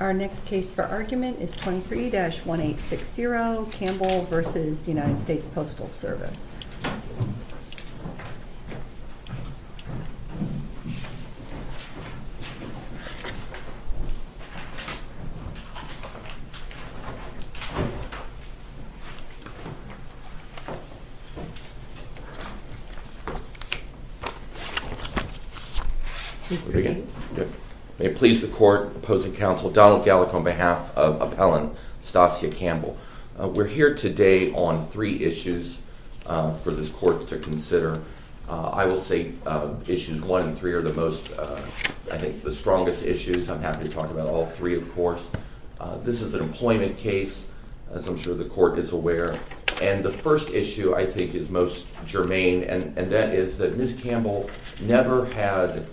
Our next case for argument is 23-1860, Campbell v. United States Postal Service. May it please the court, opposing counsel, Donald Gallick on behalf of appellant Stacia Campbell. We're here today on three issues for this court to consider. I will say issues one and three are the most, I think, the strongest issues. I'm happy to talk about all three, of course. This is an employment case, as I'm sure the court is aware. And the first issue, I think, is most germane, and that is that Ms. Campbell never had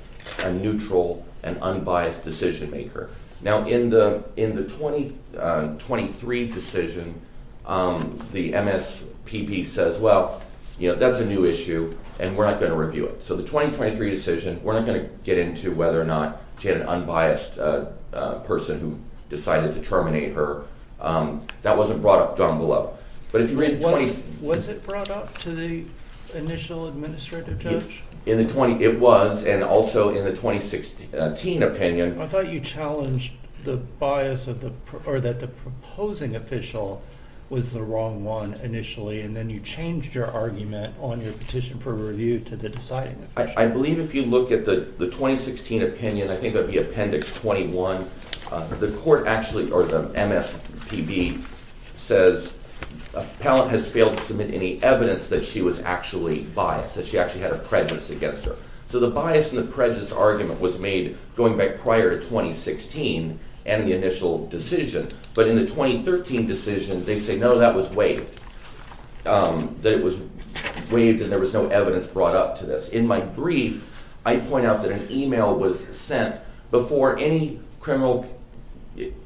a neutral and unbiased decision maker. Now, in the 2023 decision, the MSPP says, well, you know, that's a new issue, and we're not going to review it. So the 2023 decision, we're not going to get into whether or not she had an unbiased person who decided to terminate her. That wasn't brought up down below. But if you read the 20s... Was it brought up to the initial administrative judge? In the 20... It was. And also in the 2016 opinion... I thought you challenged the bias of the... Or that the proposing official was the wrong one initially, and then you changed your argument on your petition for review to the deciding official. I believe if you look at the 2016 opinion, I think that would be Appendix 21, the court actually... Or the MSPB says, appellant has failed to submit any evidence that she was actually biased, that she actually had a prejudice against her. So the bias and the prejudice argument was made going back prior to 2016 and the initial decision. But in the 2013 decision, they say, no, that was waived, that it was waived and there was no evidence brought up to this. In my brief, I point out that an email was sent before any criminal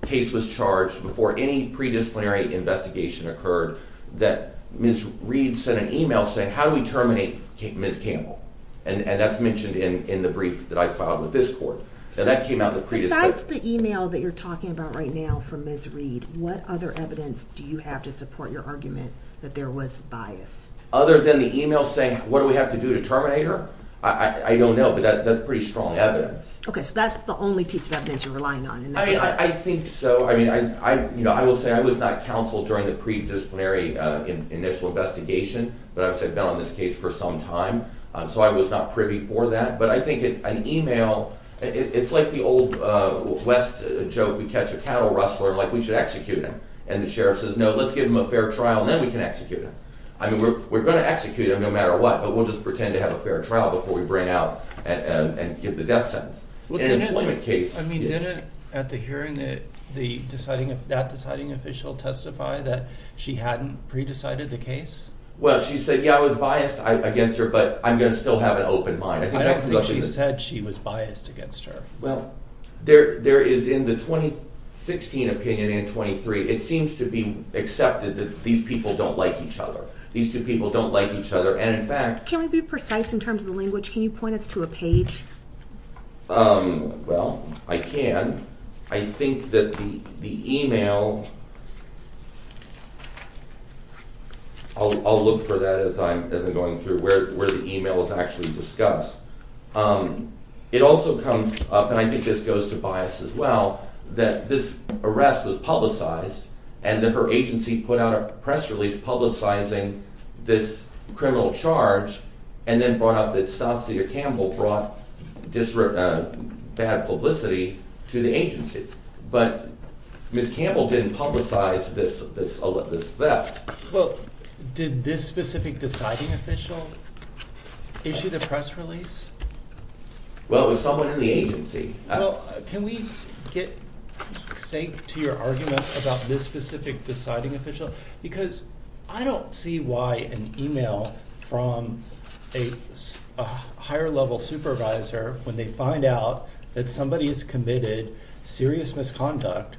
case was charged, before any predisciplinary investigation occurred, that Ms. Reed sent an email saying, how do we terminate Ms. Campbell? And that's mentioned in the brief that I filed with this court. And that came out the predis... Besides the email that you're talking about right now from Ms. Reed, what other evidence do you have to support your argument that there was bias? Other than the email saying, what do we have to do to terminate her? I don't know, but that's pretty strong evidence. Okay, so that's the only piece of evidence you're relying on in that case. I think so. I will say, I was not counsel during the predisciplinary initial investigation, but I've been on this case for some time, so I was not privy for that. But I think an email, it's like the old West joke, we catch a cattle rustler and we should execute him. And the sheriff says, no, let's give him a fair trial and then we can execute him. I mean, we're going to execute him no matter what, but we'll just pretend to have a fair trial before we bring out and give the death sentence. In an employment case... I mean, didn't, at the hearing, that deciding official testify that she hadn't pre-decided the case? Well, she said, yeah, I was biased against her, but I'm going to still have an open mind. I think that could be... I don't think she said she was biased against her. Well, there is in the 2016 opinion and 23, it seems to be accepted that these people don't like each other. These two people don't like each other. And in fact... Can we be precise in terms of the language? Can you point us to a page? Well, I can. I think that the email... I'll look for that as I'm going through where the email is actually discussed. It also comes up, and I think this goes to bias as well, that this arrest was publicized and that her agency put out a press release publicizing this criminal charge and then brought up that Stassia Campbell brought bad publicity to the agency. But Ms. Campbell didn't publicize this theft. Well, did this specific deciding official issue the press release? Well, it was someone in the agency. Well, can we get extinct to your argument about this specific deciding official? Because I don't see why an email from a higher level supervisor, when they find out that somebody has committed serious misconduct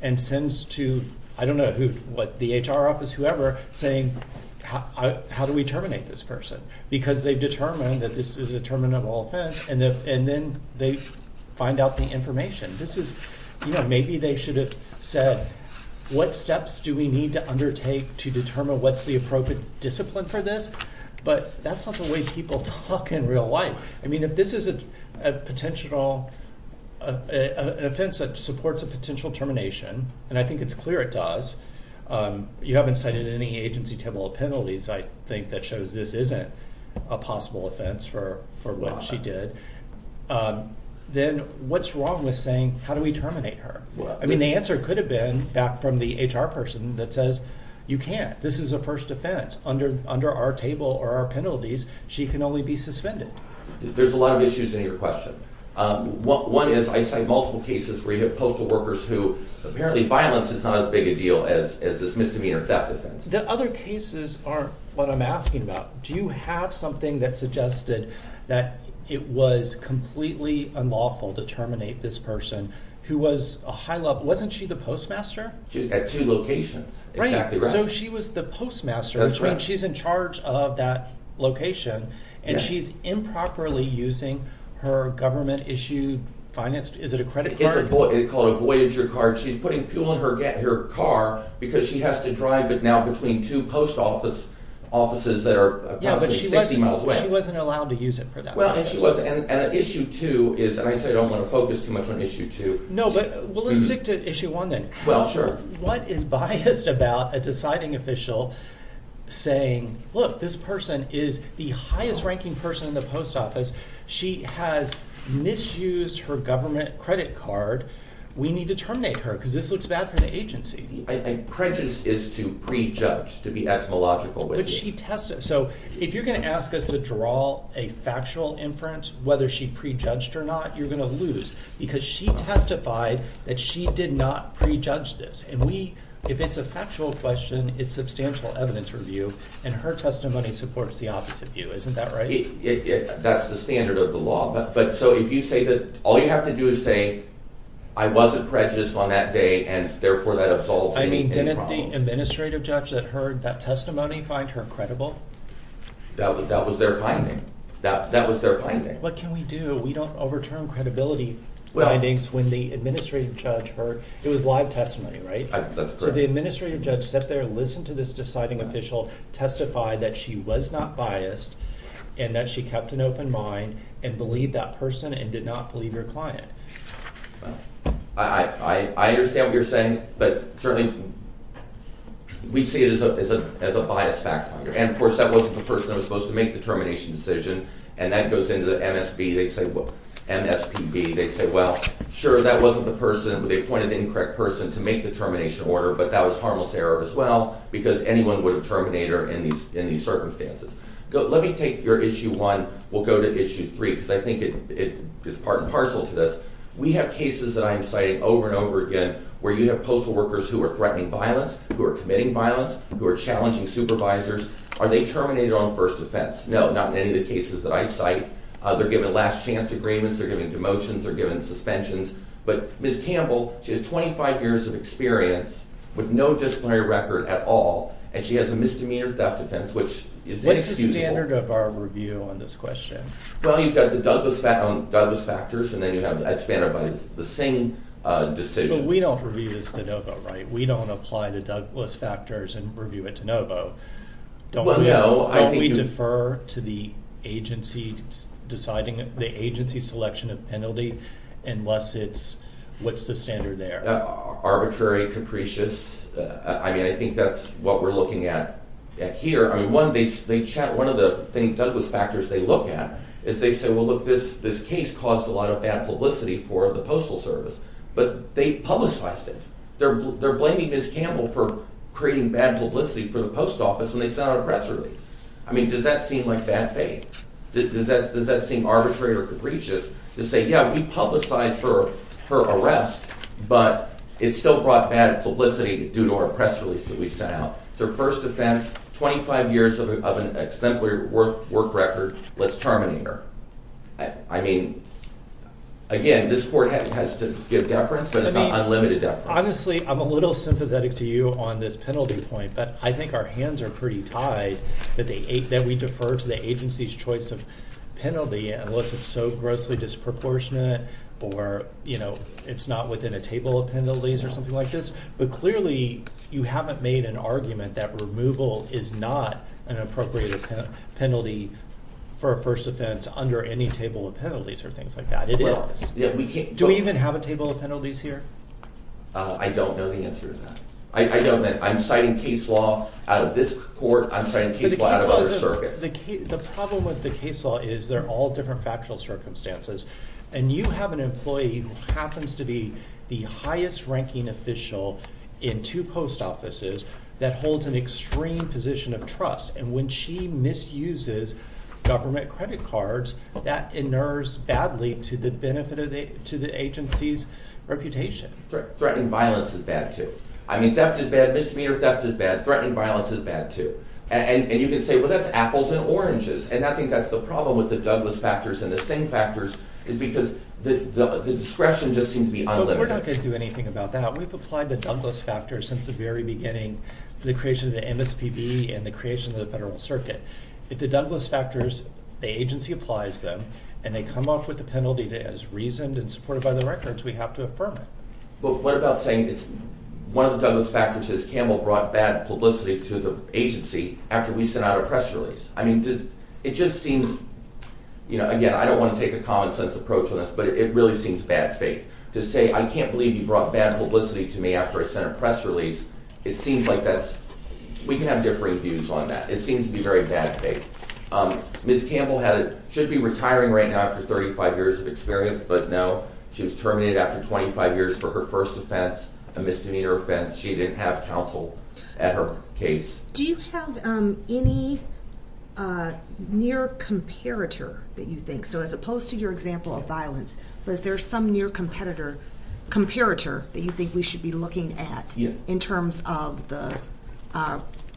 and sends to, I don't know who, what, the HR office, whoever, saying, how do we terminate this person? Because they've determined that this is a terminable offense, and then they find out the information. This is... Maybe they should have said, what steps do we need to undertake to determine what's the appropriate discipline for this? But that's not the way people talk in real life. I mean, if this is an offense that supports a potential termination, and I think it's clear it does, you haven't cited any agency table of penalties, I think, that shows this isn't a possible offense for what she did. Then, what's wrong with saying, how do we terminate her? I mean, the answer could have been, back from the HR person, that says, you can't. This is a first offense. Under our table or our penalties, she can only be suspended. There's a lot of issues in your question. One is, I cite multiple cases where you have postal workers who, apparently violence is not as big a deal as this misdemeanor theft offense. The other cases aren't what I'm asking about. Do you have something that suggested that it was completely unlawful to terminate this person who was a high level, wasn't she the postmaster? At two locations, exactly right. Right, so she was the postmaster, which means she's in charge of that location, and she's improperly using her government-issued, financed, is it a credit card? It's called a Voyager card. She's putting fuel in her car because she has to drive it now between two post offices that are approximately 60 miles away. Yeah, but she wasn't allowed to use it for that purpose. Well, and issue two is, and I say I don't want to focus too much on issue two. No, but, well, let's stick to issue one then. Well, sure. What is biased about a deciding official saying, look, this person is the highest ranking person in the post office. She has misused her government credit card. We need to terminate her because this looks bad for the agency. Prejudice is to prejudge, to be etymological with it. But she testified, so if you're going to ask us to draw a factual inference, whether she prejudged or not, you're going to lose because she testified that she did not prejudge this. And we, if it's a factual question, it's substantial evidence review, and her testimony supports the opposite view. Isn't that right? That's the standard of the law. But so if you say that, all you have to do is say, I wasn't prejudiced on that day and therefore that solves any problems. I mean, didn't the administrative judge that heard that testimony find her credible? That was their finding. That was their finding. What can we do? We don't overturn credibility findings when the administrative judge heard, it was live testimony, right? That's correct. So the administrative judge sat there, listened to this deciding official, testified that she was not biased and that she kept an open mind and believed that person and did not believe her client. I understand what you're saying, but certainly we see it as a bias factor. And of course, that wasn't the person that was supposed to make the termination decision. And that goes into the MSPB. They say, well, sure, that wasn't the person. They appointed the incorrect person to make the termination order, but that was harmless error as well because anyone would have terminated her in these circumstances. Let me take your issue one. We'll go to issue three because I think it is part and parcel to this. We have cases that I'm citing over and over again where you have postal workers who are threatening violence, who are committing violence, who are challenging supervisors. Are they terminated on first offense? No, not in any of the cases that I cite. They're given last chance agreements. They're given demotions. They're given suspensions. But Ms. Campbell, she has 25 years of experience with no disciplinary record at all, and she has a misdemeanor theft offense, which is inexcusable. What's the standard of our review on this question? Well, you've got the Douglas factors, and then you have, at Spanner, the same decision. But we don't review this de novo, right? We don't apply the Douglas factors and review it de novo. Well, no. Don't we defer to the agency deciding, the agency's selection of penalty unless it's, what's the standard there? Arbitrary, capricious. I mean, I think that's what we're looking at here. One of the Douglas factors they look at is they say, well, look, this case caused a lot of bad publicity for the Postal Service, but they publicized it. They're blaming Ms. Campbell for creating bad publicity for the Post Office when they sent out a press release. I mean, does that seem like bad faith? Does that seem arbitrary or capricious to say, yeah, we publicized her arrest, but it still brought bad publicity due to our press release that we sent out? It's her first offense, 25 years of an exemplary work record. Let's terminate her. I mean, again, this court has to give deference, but it's an unlimited deference. Honestly, I'm a little sympathetic to you on this penalty point, but I think our hands are pretty tied that we defer to the agency's choice of penalty unless it's so grossly disproportionate or it's not within a table of penalties or something like this. But clearly, you haven't made an argument that removal is not an appropriate penalty for a first offense under any table of penalties or things like that. It is. Do we even have a table of penalties here? I don't know the answer to that. I don't. I'm citing case law out of this court. I'm citing case law out of other circuits. The problem with the case law is they're all different factual circumstances. And you have an employee who happens to be the highest-ranking official in two post offices that holds an extreme position of trust. And when she misuses government credit cards, that inures badly to the benefit of the agency's reputation. Threatened violence is bad, too. I mean, theft is bad. Misdemeanor theft is bad. Threatened violence is bad, too. And you can say, well, that's apples and oranges. And I think that's the problem with the Douglas factors and the Singh factors is because the discretion just seems to be unlimited. But we're not going to do anything about that. We've applied the Douglas factors since the very beginning for the creation of the MSPB and the creation of the federal circuit. If the Douglas factors, the agency applies them, and they come off with a penalty that is reasoned and supported by the records, we have to affirm it. But what about saying it's one of the Douglas factors is Campbell brought bad publicity to the agency after we sent out a press release? I mean, it just seems, you know, again, I don't want to take a common-sense approach on this, but it really seems bad faith to say I can't believe you brought bad publicity to me after I sent a press release. It seems like that's we can have differing views on that. It seems to be very bad faith. Ms. Campbell should be retiring right now after 35 years of experience, but no. She was terminated after 25 years for her first offense, a misdemeanor offense. She didn't have counsel at her case. Do you have any near comparator that you think? So as opposed to your example of violence, was there some near comparator that you think we should be looking at in terms of the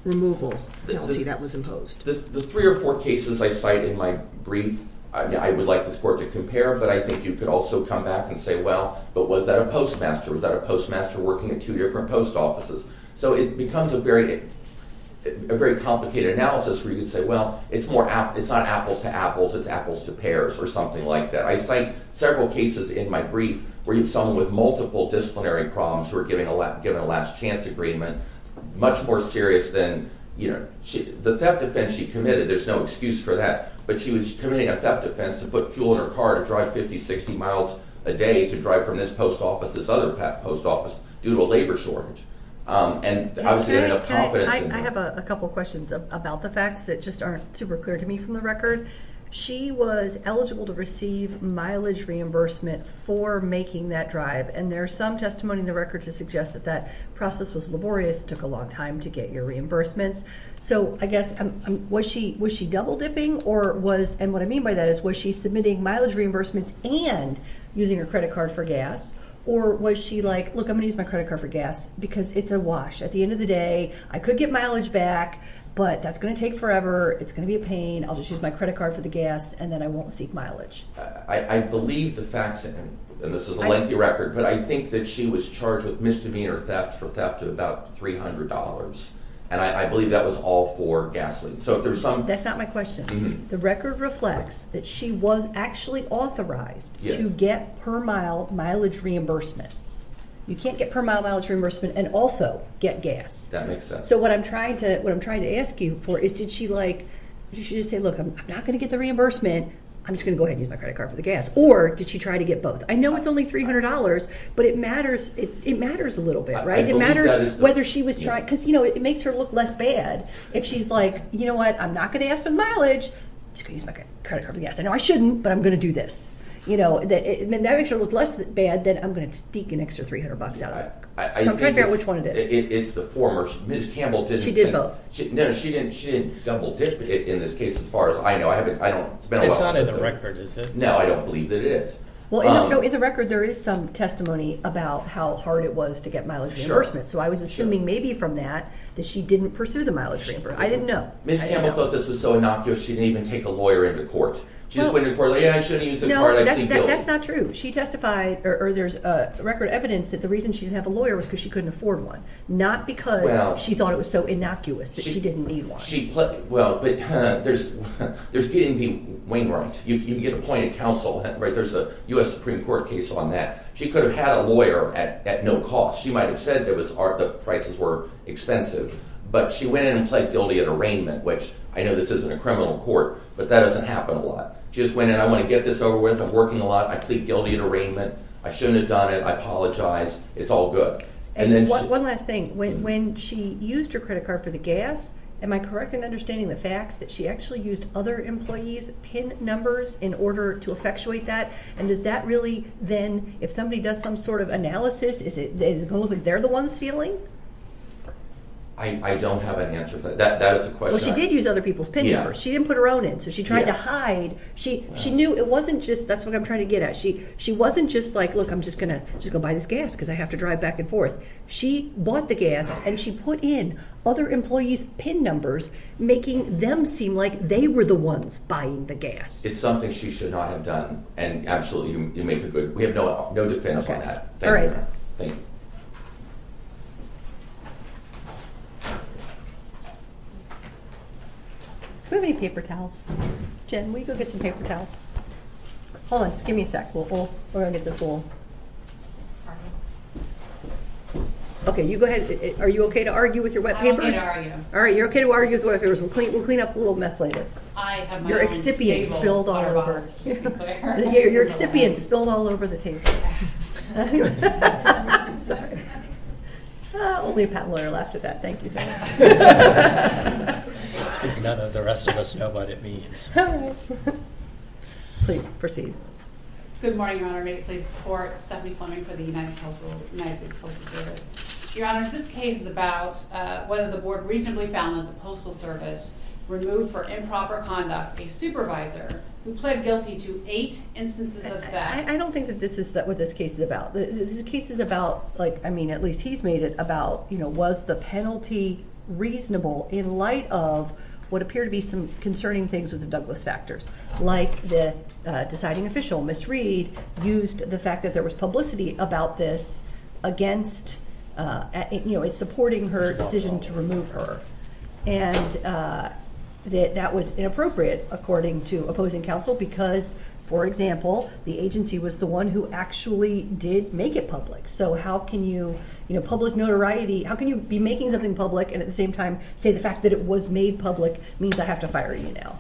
removal penalty that was imposed? The three or four cases I cite in my brief, I would like this court to compare, but I think you could also come back and say, well, but was that a postmaster? Was that a postmaster working at two different post offices? So it becomes a very complicated analysis where you could say, well, it's not apples to apples, it's apples to pears or something like that. I cite several cases in my brief where you have someone with multiple disciplinary problems who are given a last chance agreement, much more serious than, you know. The theft offense she committed, there's no excuse for that, but she was committing a theft offense to put fuel in her car to drive 50, 60 miles a day to drive from this post office, this other post office, due to a labor shortage. And I was getting enough confidence in me. I have a couple of questions about the facts that just aren't super clear to me from the record. She was eligible to receive mileage reimbursement for making that drive, and there is some testimony in the record to suggest that that process was laborious, took a long time to get your reimbursements. So I guess was she double-dipping or was, and what I mean by that is, was she submitting mileage reimbursements and using her credit card for gas, or was she like, look, I'm going to use my credit card for gas because it's a wash. At the end of the day, I could get mileage back, but that's going to take forever, it's going to be a pain, I'll just use my credit card for the gas, and then I won't seek mileage. I believe the facts, and this is a lengthy record, but I think that she was charged with misdemeanor theft for theft of about $300, and I believe that was all for gasoline. That's not my question. The record reflects that she was actually authorized to get per mile mileage reimbursement. You can't get per mile mileage reimbursement and also get gas. That makes sense. So what I'm trying to ask you for is did she like, did she just say, look, I'm not going to get the reimbursement, I'm just going to go ahead and use my credit card for the gas, or did she try to get both? I know it's only $300, but it matters a little bit, right? It makes her look less bad if she's like, you know what, I'm not going to ask for the mileage, I'm just going to use my credit card for the gas. I know I shouldn't, but I'm going to do this. That makes her look less bad, then I'm going to steak an extra $300 out of it. So I'm trying to figure out which one it is. It's the former. She did both. No, she didn't double dip in this case as far as I know. It's not in the record, is it? No, I don't believe that it is. Well, no, in the record there is some testimony about how hard it was to get mileage reimbursement. So I was assuming maybe from that that she didn't pursue the mileage reimbursement. I didn't know. Ms. Campbell thought this was so innocuous she didn't even take a lawyer into court. She just went to court, like, I shouldn't use the card. No, that's not true. She testified, or there's record evidence that the reason she didn't have a lawyer was because she couldn't afford one, not because she thought it was so innocuous that she didn't need one. Well, there's getting the wing right. You can get appointed counsel. There's a U.S. Supreme Court case on that. She could have had a lawyer at no cost. She might have said the prices were expensive, but she went in and pled guilty at arraignment, which I know this isn't a criminal court, but that doesn't happen a lot. She just went in, I want to get this over with. I'm working a lot. I plead guilty at arraignment. I shouldn't have done it. I apologize. It's all good. One last thing. When she used her credit card for the gas, am I correct in understanding the facts that she actually used other employees' PIN numbers in order to effectuate that? And does that really then, if somebody does some sort of analysis, is it almost like they're the ones stealing? I don't have an answer for that. That is the question. Well, she did use other people's PIN numbers. She didn't put her own in, so she tried to hide. She knew it wasn't just, that's what I'm trying to get at. She wasn't just like, look, I'm just going to go buy this gas because I have to drive back and forth. She bought the gas, and she put in other employees' PIN numbers, making them seem like they were the ones buying the gas. It's something she should not have done, and absolutely, you make a good, we have no defense on that. Thank you. Thank you. Do we have any paper towels? Jen, will you go get some paper towels? Hold on, just give me a sec. We're going to get this little. Okay, you go ahead. Are you okay to argue with your wet papers? I'm okay to argue. All right, you're okay to argue with the wet papers. We'll clean up a little mess later. Your excipient spilled all over. Your excipient spilled all over the table. Only a patent lawyer laughed at that. Thank you, sir. None of the rest of us know what it means. Please, proceed. Good morning, Your Honor. May it please the Court? Stephanie Fleming for the United States Postal Service. Your Honor, this case is about whether the Board reasonably found that the Postal Service removed for improper conduct a supervisor who pleaded guilty to eight instances of theft. I don't think that this is what this case is about. This case is about, I mean, at least he's made it about, you know, was the penalty reasonable in light of what appear to be some concerning things with the Douglas factors, like the deciding official, Ms. Reed, used the fact that there was publicity about this against, you know, supporting her decision to remove her. And that that was inappropriate, according to opposing counsel, because, for example, the agency was the one who actually did make it public. So how can you, you know, public notoriety, how can you be making something public and at the same time say the fact that it was made public means I have to fire you now?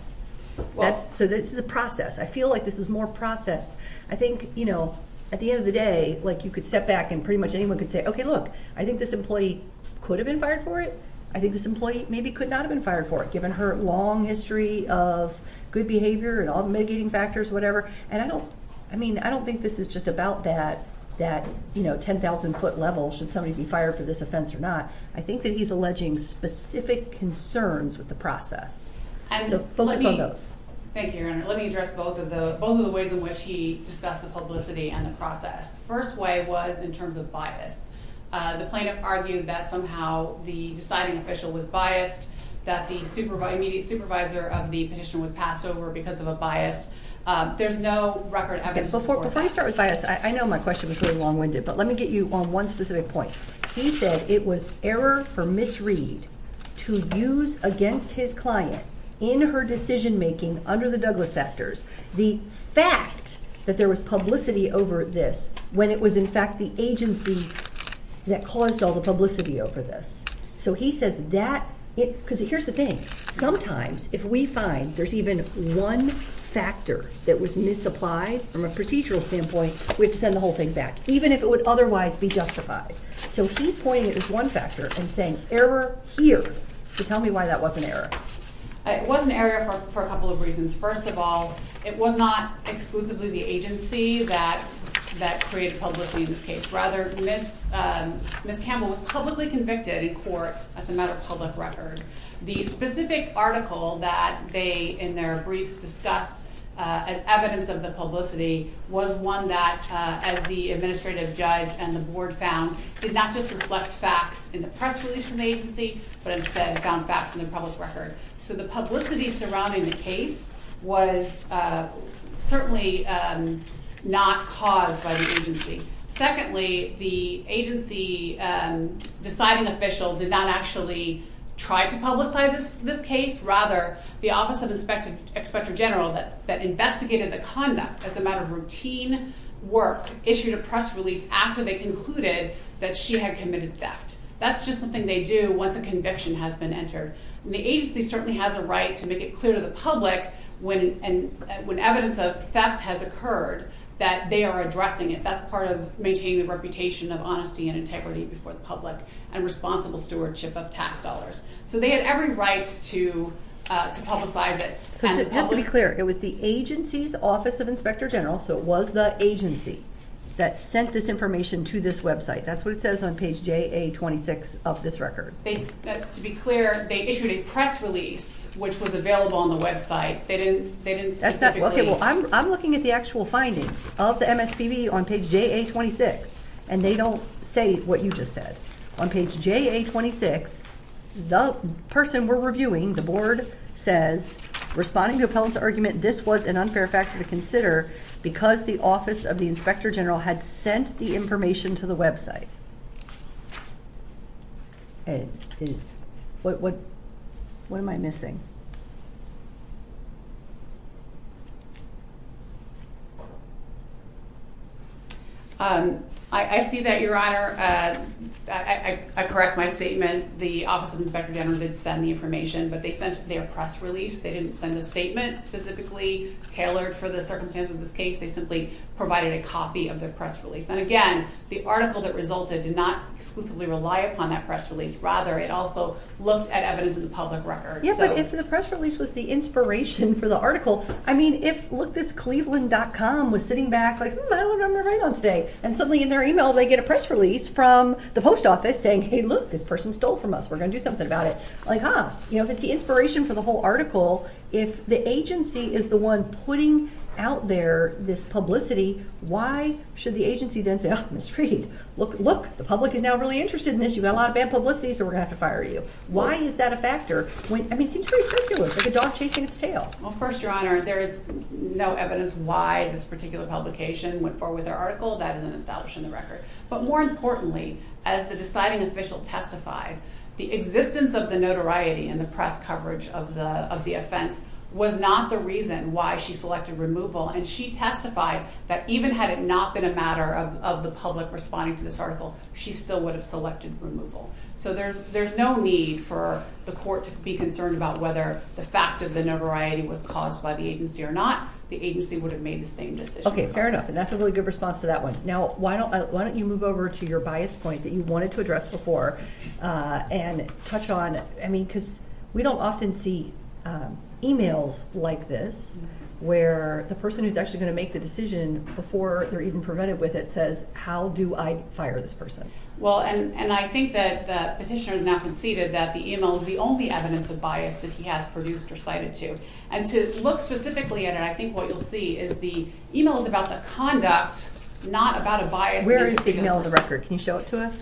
So this is a process. I feel like this is more process. I think, you know, at the end of the day, like you could step back and pretty much anyone could say, okay, look, I think this employee could have been fired for it. I think this employee maybe could not have been fired for it, given her long history of good behavior and all the mitigating factors, whatever. And I don't, I mean, I don't think this is just about that, you know, 10,000-foot level, should somebody be fired for this offense or not. I think that he's alleging specific concerns with the process. So focus on those. Thank you, Your Honor. Let me address both of the ways in which he discussed the publicity and the process. First way was in terms of bias. The plaintiff argued that somehow the deciding official was biased, that the immediate supervisor of the petition was passed over because of a bias. There's no record evidence to support that. Before I start with bias, I know my question was really long-winded, but let me get you on one specific point. He said it was error or misread to use against his client in her decision-making under the Douglas factors the fact that there was publicity over this when it was, in fact, the agency that caused all the publicity over this. So he says that, because here's the thing. Sometimes if we find there's even one factor that was misapplied from a procedural standpoint, we have to send the whole thing back, even if it would otherwise be justified. So he's pointing at this one factor and saying error here. So tell me why that wasn't error. It wasn't error for a couple of reasons. First of all, it was not exclusively the agency that created publicity in this case. Rather, Ms. Campbell was publicly convicted in court as a matter of public record. The specific article that they, in their briefs, discussed as evidence of the publicity was one that, as the administrative judge and the board found, did not just reflect facts in the press release from the agency, but instead found facts in the public record. So the publicity surrounding the case was certainly not caused by the agency. Secondly, the agency deciding official did not actually try to publicize this case. Rather, the Office of Inspector General that investigated the conduct as a matter of routine work issued a press release after they concluded that she had committed theft. That's just something they do once a conviction has been entered. The agency certainly has a right to make it clear to the public when evidence of theft has occurred that they are addressing it. That's part of maintaining the reputation of honesty and integrity before the public and responsible stewardship of tax dollars. So they had every right to publicize it. Just to be clear, it was the agency's Office of Inspector General, so it was the agency, that sent this information to this website. That's what it says on page JA-26 of this record. To be clear, they issued a press release, which was available on the website. They didn't specifically... I'm looking at the actual findings of the MSPB on page JA-26, and they don't say what you just said. On page JA-26, the person we're reviewing, the board, says, Responding to the appellant's argument, this was an unfair factor to consider because the Office of Inspector General had sent the information to the website. What am I missing? I see that, Your Honor. I correct my statement. The Office of Inspector General did send the information, but they sent their press release. They didn't send a statement specifically tailored for the circumstances of this case. They simply provided a copy of the press release. And again, the article that resulted did not exclusively rely upon that press release. Rather, it also looked at evidence in the public record. Yeah, but if the press release was the inspiration for the article... I mean, if LookThisCleveland.com was sitting back like, I don't know what I'm going to write on today. And suddenly, in their email, they get a press release from the post office saying, Hey, look, this person stole from us. We're going to do something about it. Like, huh. You know, if it's the inspiration for the whole article, if the agency is the one putting out there this publicity, why should the agency then say, Oh, Miss Reed, look, look, the public is now really interested in this. You've got a lot of bad publicity, so we're going to have to fire you. Why is that a factor? I mean, it seems pretty circular, like a dog chasing its tail. Well, first, Your Honor, there is no evidence why this particular publication went forward with their article. That isn't established in the record. But more importantly, as the deciding official testified, the existence of the notoriety in the press coverage of the offense was not the reason why she selected removal. And she testified that even had it not been a matter of the public responding to this article, she still would have selected removal. So there's no need for the court to be concerned about whether the fact of the notoriety was caused by the agency or not. The agency would have made the same decision. Okay, fair enough. And that's a really good response to that one. Now, why don't you move over to your bias point that you wanted to address before and touch on. I mean, because we don't often see emails like this where the person who's actually going to make the decision before they're even prevented with it says, How do I fire this person? Well, and I think that the petitioner has now conceded that the email is the only evidence of bias that he has produced or cited to. And to look specifically at it, I think what you'll see is the email is about the conduct, not about a bias. Where is the email in the record? Can you show it to us?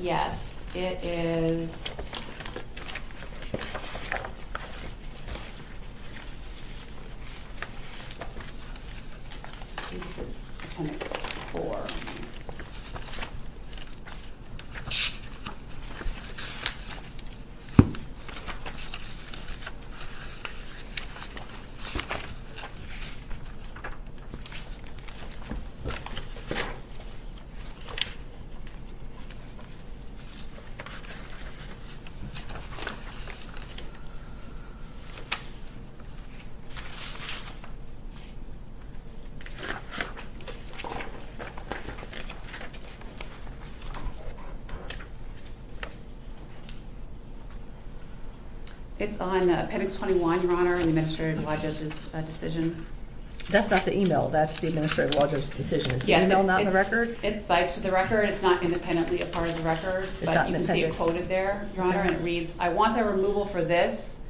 Yes, it is. Okay. Okay. It's on appendix 21, Your Honor, and the administrative law judge's decision. That's not the email. That's the administrative law judge's decision. Is the email not in the record? It's cited to the record. It's not independently a part of the record. But you can see it quoted there, Your Honor. And it reads, I want a removal for this.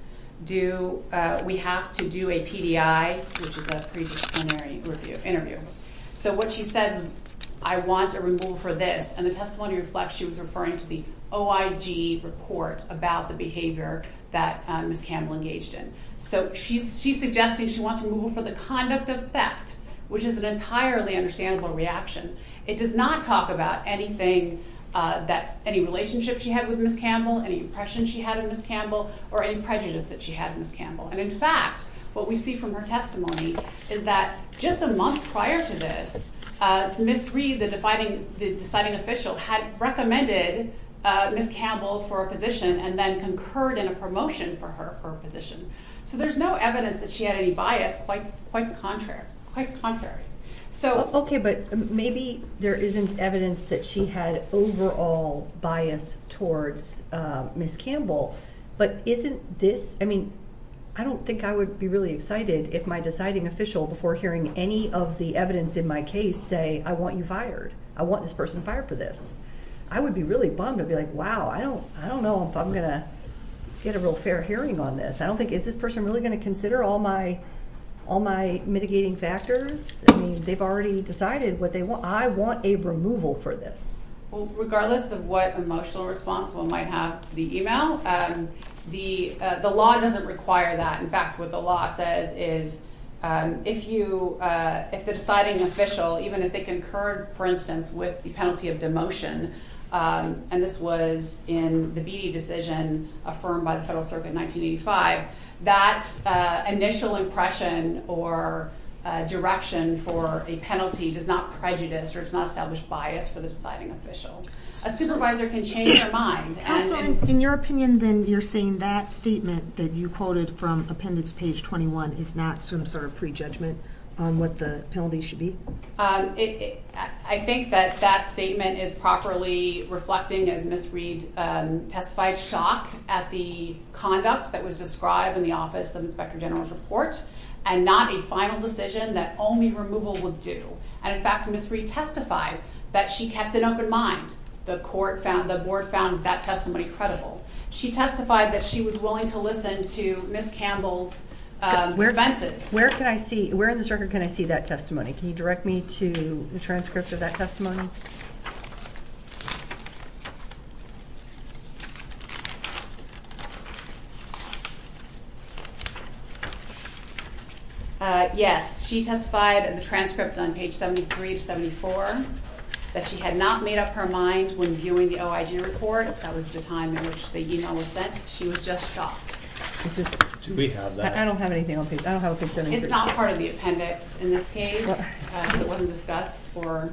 Do we have to do a PDI, which is a predisciplinary interview. So what she says, I want a removal for this, and the testimony reflects she was referring to the OIG report about the behavior that Ms. Campbell engaged in. So she's suggesting she wants a removal for the conduct of theft, which is an entirely understandable reaction. It does not talk about anything that any relationship she had with Ms. Campbell, any impression she had of Ms. Campbell, or any prejudice that she had of Ms. Campbell. And, in fact, what we see from her testimony is that just a month prior to this, Ms. Reed, the deciding official, had recommended Ms. Campbell for a position and then concurred in a promotion for her position. So there's no evidence that she had any bias, quite the contrary. Okay, but maybe there isn't evidence that she had overall bias towards Ms. Campbell. But isn't this, I mean, I don't think I would be really excited if my deciding official, before hearing any of the evidence in my case, say, I want you fired. I want this person fired for this. I would be really bummed. I'd be like, wow, I don't know if I'm going to get a real fair hearing on this. I don't think, is this person really going to consider all my mitigating factors? I mean, they've already decided what they want. I want a removal for this. Well, regardless of what emotional response one might have to the email, the law doesn't require that. In fact, what the law says is if the deciding official, even if they concurred, for instance, with the penalty of demotion, and this was in the Beattie decision affirmed by the Federal Circuit in 1985, that initial impression or direction for a penalty does not prejudice or it's not established bias for the deciding official. A supervisor can change their mind. Counselor, in your opinion, then, you're saying that statement that you quoted from appendix page 21 is not some sort of prejudgment on what the penalty should be? I think that that statement is properly reflecting, as Ms. Reed testified, shock at the conduct that was described in the Office of Inspector General's report and not a final decision that only removal would do. And, in fact, Ms. Reed testified that she kept an open mind. The board found that testimony credible. She testified that she was willing to listen to Ms. Campbell's defenses. Where in this record can I see that testimony? Can you direct me to the transcript of that testimony? Yes. She testified in the transcript on page 73 to 74 that she had not made up her mind when viewing the OIG report. That was the time in which the e-mail was sent. She was just shocked. Do we have that? I don't have anything on page 73. It's not part of the appendix in this case because it wasn't discussed or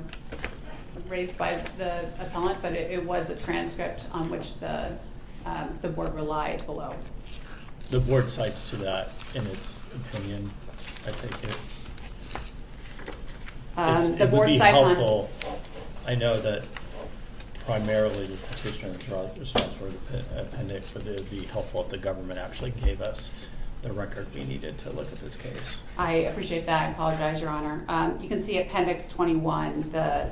raised by the appellant, but it was a transcript on which the board relied below. The board cites to that in its opinion, I take it. It would be helpful. I know that primarily the case manager's response for the appendix, but it would be helpful if the government actually gave us the record we needed to look at this case. I appreciate that. I apologize, Your Honor. You can see Appendix 21, the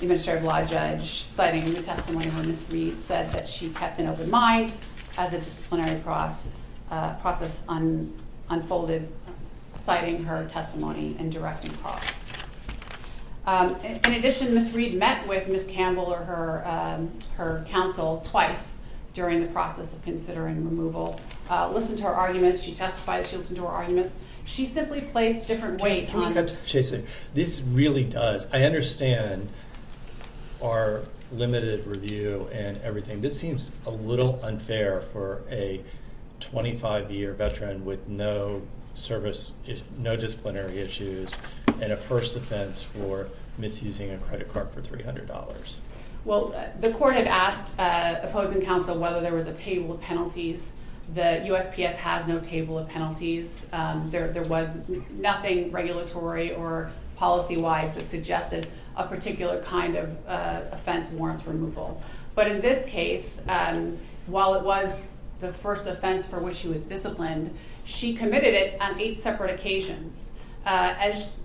administrative law judge citing the testimony where Ms. Reed said that she kept an open mind as the disciplinary process unfolded, citing her testimony and directing cross. In addition, Ms. Reed met with Ms. Campbell or her counsel twice during the process of considering removal, listened to her arguments. She testified. She listened to her arguments. She simply placed different weight on. Can we cut to the chase here? This really does. I understand our limited review and everything. This seems a little unfair for a 25-year veteran with no service, no disciplinary issues and a first offense for misusing a credit card for $300. Well, the court had asked opposing counsel whether there was a table of penalties. The USPS has no table of penalties. There was nothing regulatory or policy-wise that suggested a particular kind of offense warrants removal. But in this case, while it was the first offense for which she was disciplined, she committed it on eight separate occasions. As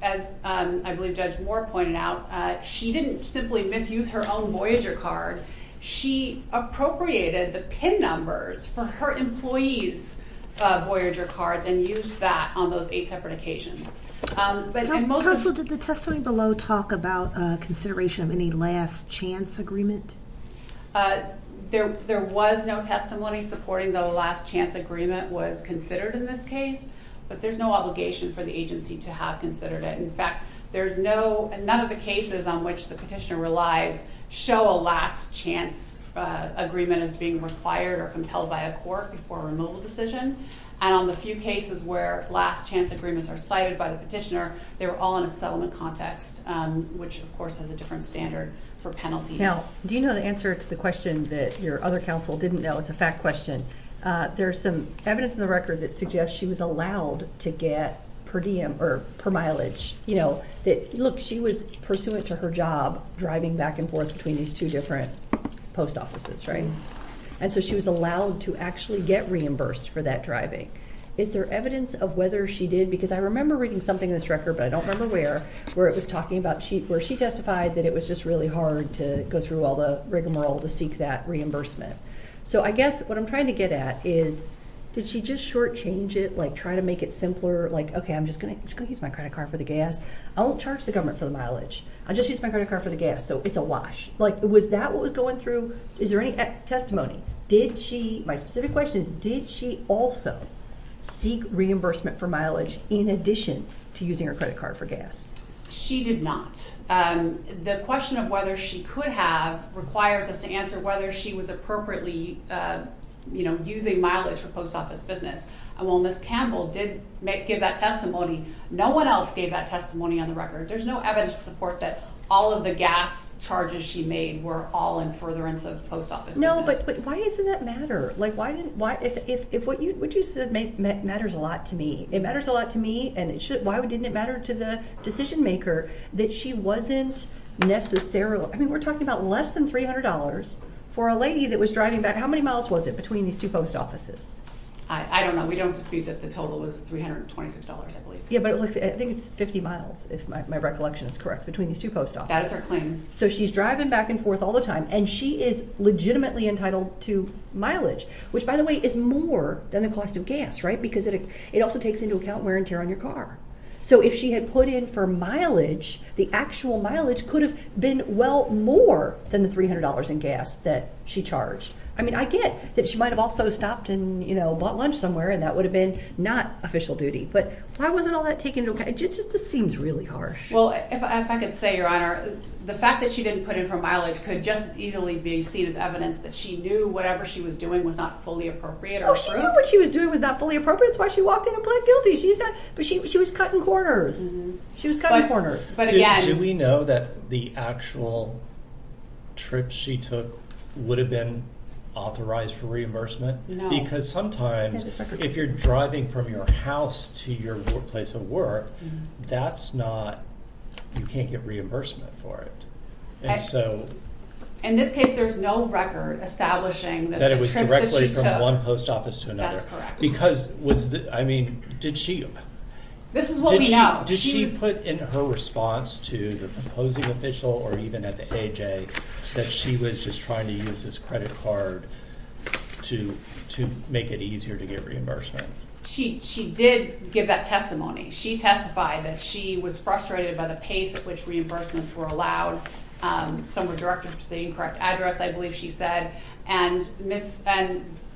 I believe Judge Moore pointed out, she didn't simply misuse her own Voyager card. She appropriated the PIN numbers for her employees' Voyager cards and used that on those eight separate occasions. Counsel, did the testimony below talk about consideration of any last chance agreement? There was no testimony supporting that a last chance agreement was considered in this case, but there's no obligation for the agency to have considered it. In fact, none of the cases on which the petitioner relies show a last chance agreement as being required or compelled by a court before a removal decision. And on the few cases where last chance agreements are cited by the petitioner, they were all in a settlement context, which, of course, has a different standard for penalties. Now, do you know the answer to the question that your other counsel didn't know? It's a fact question. There's some evidence in the record that suggests she was allowed to get per diem or per mileage. You know, look, she was pursuant to her job driving back and forth between these two different post offices, right? And so she was allowed to actually get reimbursed for that driving. Is there evidence of whether she did? Because I remember reading something in this record, but I don't remember where, where it was talking about where she testified that it was just really hard to go through all the rigmarole to seek that reimbursement. So I guess what I'm trying to get at is, did she just shortchange it, like, try to make it simpler? Like, OK, I'm just going to use my credit card for the gas. I won't charge the government for the mileage. I just use my credit card for the gas. So it's a wash. Like, was that what was going through? Is there any testimony? My specific question is, did she also seek reimbursement for mileage in addition to using her credit card for gas? She did not. The question of whether she could have requires us to answer whether she was appropriately, you know, using mileage for post office business. And while Ms. Campbell did give that testimony, no one else gave that testimony on the record. There's no evidence to support that all of the gas charges she made were all in furtherance of the post office business. No, but why doesn't that matter? Like, why didn't, if what you said matters a lot to me, it matters a lot to me. And why didn't it matter to the decision maker that she wasn't necessarily, I mean, we're talking about less than $300 for a lady that was driving back. How many miles was it between these two post offices? I don't know. We don't dispute that the total was $326, I believe. Yeah, but I think it's 50 miles, if my recollection is correct, between these two post offices. That is her claim. So she's driving back and forth all the time, and she is legitimately entitled to mileage, which, by the way, is more than the cost of gas, right? Because it also takes into account wear and tear on your car. So if she had put in for mileage, the actual mileage could have been well more than the $300 in gas that she charged. I mean, I get that she might have also stopped and, you know, bought lunch somewhere, and that would have been not official duty. But why wasn't all that taken into account? It just seems really harsh. Well, if I could say, Your Honor, the fact that she didn't put in for mileage could just as easily be seen as evidence that she knew whatever she was doing was not fully appropriate. Oh, she knew what she was doing was not fully appropriate. That's why she walked in and pled guilty. But she was cutting corners. She was cutting corners. Do we know that the actual trips she took would have been authorized for reimbursement? Because sometimes if you're driving from your house to your workplace or work, that's not – you can't get reimbursement for it. In this case, there's no record establishing that the trips that she took – That it was directly from one post office to another. That's correct. Because, I mean, did she – This is what we know. Did she put in her response to the proposing official or even at the AHA that she was just trying to use this credit card to make it easier to get reimbursement? She did give that testimony. She testified that she was frustrated by the pace at which reimbursements were allowed. Some were directed to the incorrect address, I believe she said. And the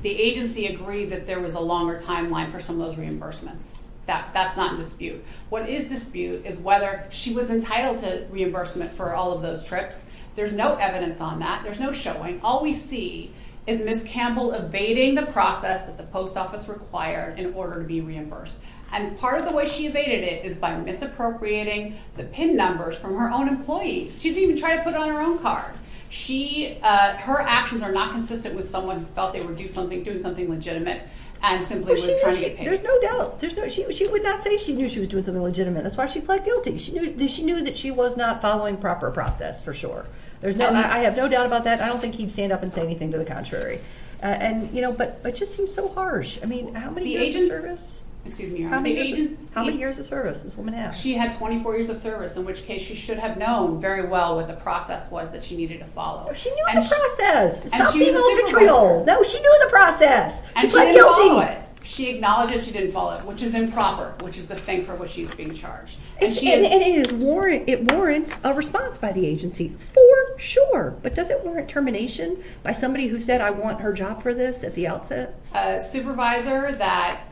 agency agreed that there was a longer timeline for some of those reimbursements. That's not in dispute. What is dispute is whether she was entitled to reimbursement for all of those trips. There's no evidence on that. There's no showing. All we see is Ms. Campbell evading the process that the post office required in order to be reimbursed. And part of the way she evaded it is by misappropriating the PIN numbers from her own employees. She didn't even try to put it on her own card. Her actions are not consistent with someone who felt they were doing something legitimate and simply was trying to get paid. There's no doubt. She would not say she knew she was doing something legitimate. That's why she pled guilty. She knew that she was not following proper process, for sure. I have no doubt about that. I don't think he'd stand up and say anything to the contrary. But it just seems so harsh. I mean, how many years of service? Excuse me. How many years of service does this woman have? She had 24 years of service, in which case she should have known very well what the process was that she needed to follow. She knew the process. Stop being all vitriol. No, she knew the process. She pled guilty. And she didn't follow it. She acknowledges she didn't follow it, which is improper, which is the thing for which she's being charged. And it warrants a response by the agency, for sure. But does it warrant termination by somebody who said, I want her job for this at the outset? A supervisor that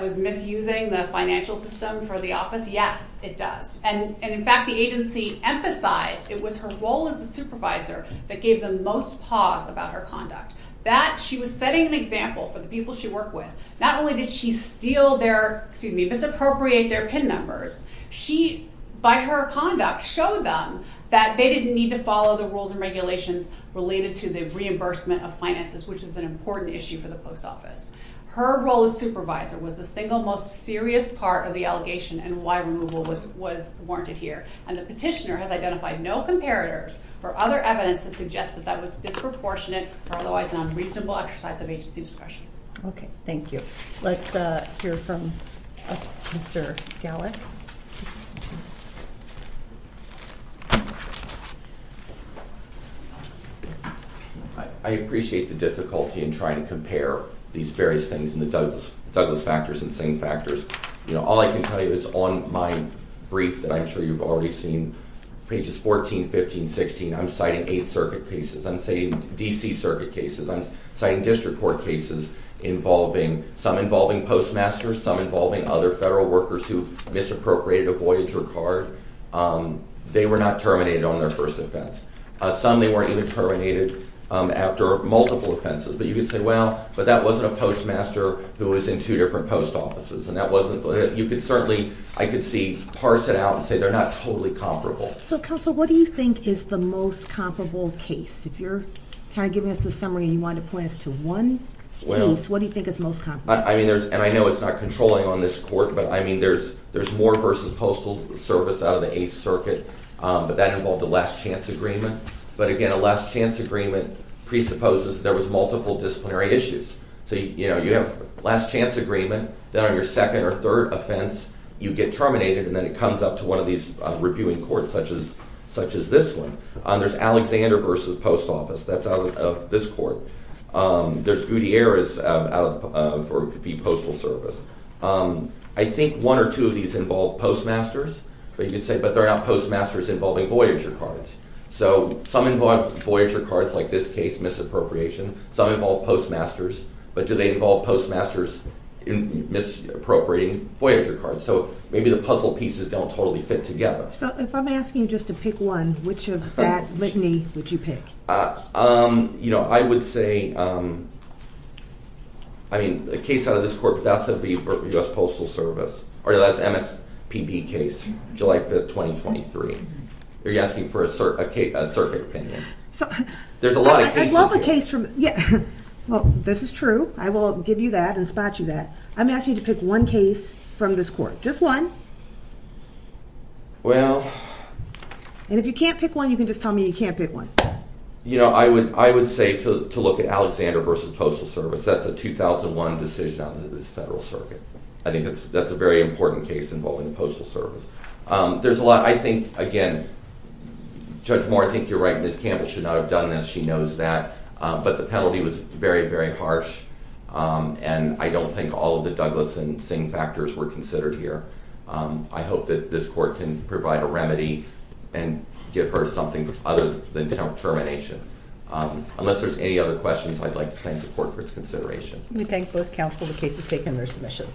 was misusing the financial system for the office? Yes, it does. And, in fact, the agency emphasized it was her role as a supervisor that gave the most pause about her conduct. That she was setting an example for the people she worked with. Not only did she steal their, excuse me, misappropriate their PIN numbers, she, by her conduct, showed them that they didn't need to follow the rules and regulations related to the reimbursement of finances, which is an important issue for the post office. Her role as supervisor was the single most serious part of the allegation and why removal was warranted here. And the petitioner has identified no comparators or other evidence that suggests that that was disproportionate or otherwise an unreasonable exercise of agency discretion. Okay. Thank you. Let's hear from Mr. Gallek. I appreciate the difficulty in trying to compare these various things and the Douglas factors and Singh factors. You know, all I can tell you is on my brief that I'm sure you've already seen, pages 14, 15, 16, I'm citing 8th Circuit cases. I'm citing D.C. Circuit cases. I'm citing district court cases involving, some involving postmasters, some involving other federal workers who misappropriated a voyage or card. They were not terminated on their first offense. Some they weren't even terminated after multiple offenses. But you could say, well, but that wasn't a postmaster who was in two different post offices. And that wasn't, you could certainly, I could see, parse it out and say they're not totally comparable. So, counsel, what do you think is the most comparable case? If you're kind of giving us the summary and you wanted to point us to one case, what do you think is most comparable? I mean, there's, and I know it's not controlling on this court, but I mean, there's more versus postal service out of the 8th Circuit. But that involved a last chance agreement. But, again, a last chance agreement presupposes there was multiple disciplinary issues. So, you know, you have last chance agreement. Then on your second or third offense, you get terminated. And then it comes up to one of these reviewing courts such as this one. There's Alexander versus post office. That's out of this court. There's Gutierrez out for the postal service. I think one or two of these involve postmasters. But you could say, but they're not postmasters involving voyager cards. So some involve voyager cards, like this case, misappropriation. Some involve postmasters. But do they involve postmasters misappropriating voyager cards? So maybe the puzzle pieces don't totally fit together. So if I'm asking you just to pick one, which of that litany would you pick? You know, I would say, I mean, a case out of this court, Bethleveed v. U.S. Postal Service. Or that MSPP case, July 5th, 2023. You're asking for a circuit opinion. There's a lot of cases here. Well, this is true. I will give you that and spot you that. I'm asking you to pick one case from this court. Just one. Well. And if you can't pick one, you can just tell me you can't pick one. You know, I would say to look at Alexander versus postal service. That's a 2001 decision out of this federal circuit. I think that's a very important case involving postal service. There's a lot. I think, again, Judge Moore, I think you're right. Ms. Campbell should not have done this. She knows that. But the penalty was very, very harsh. And I don't think all of the Douglas and Singh factors were considered here. I hope that this court can provide a remedy and give her something other than termination. Unless there's any other questions, I'd like to thank the court for its consideration. We thank both counsel. The case is taken under submission.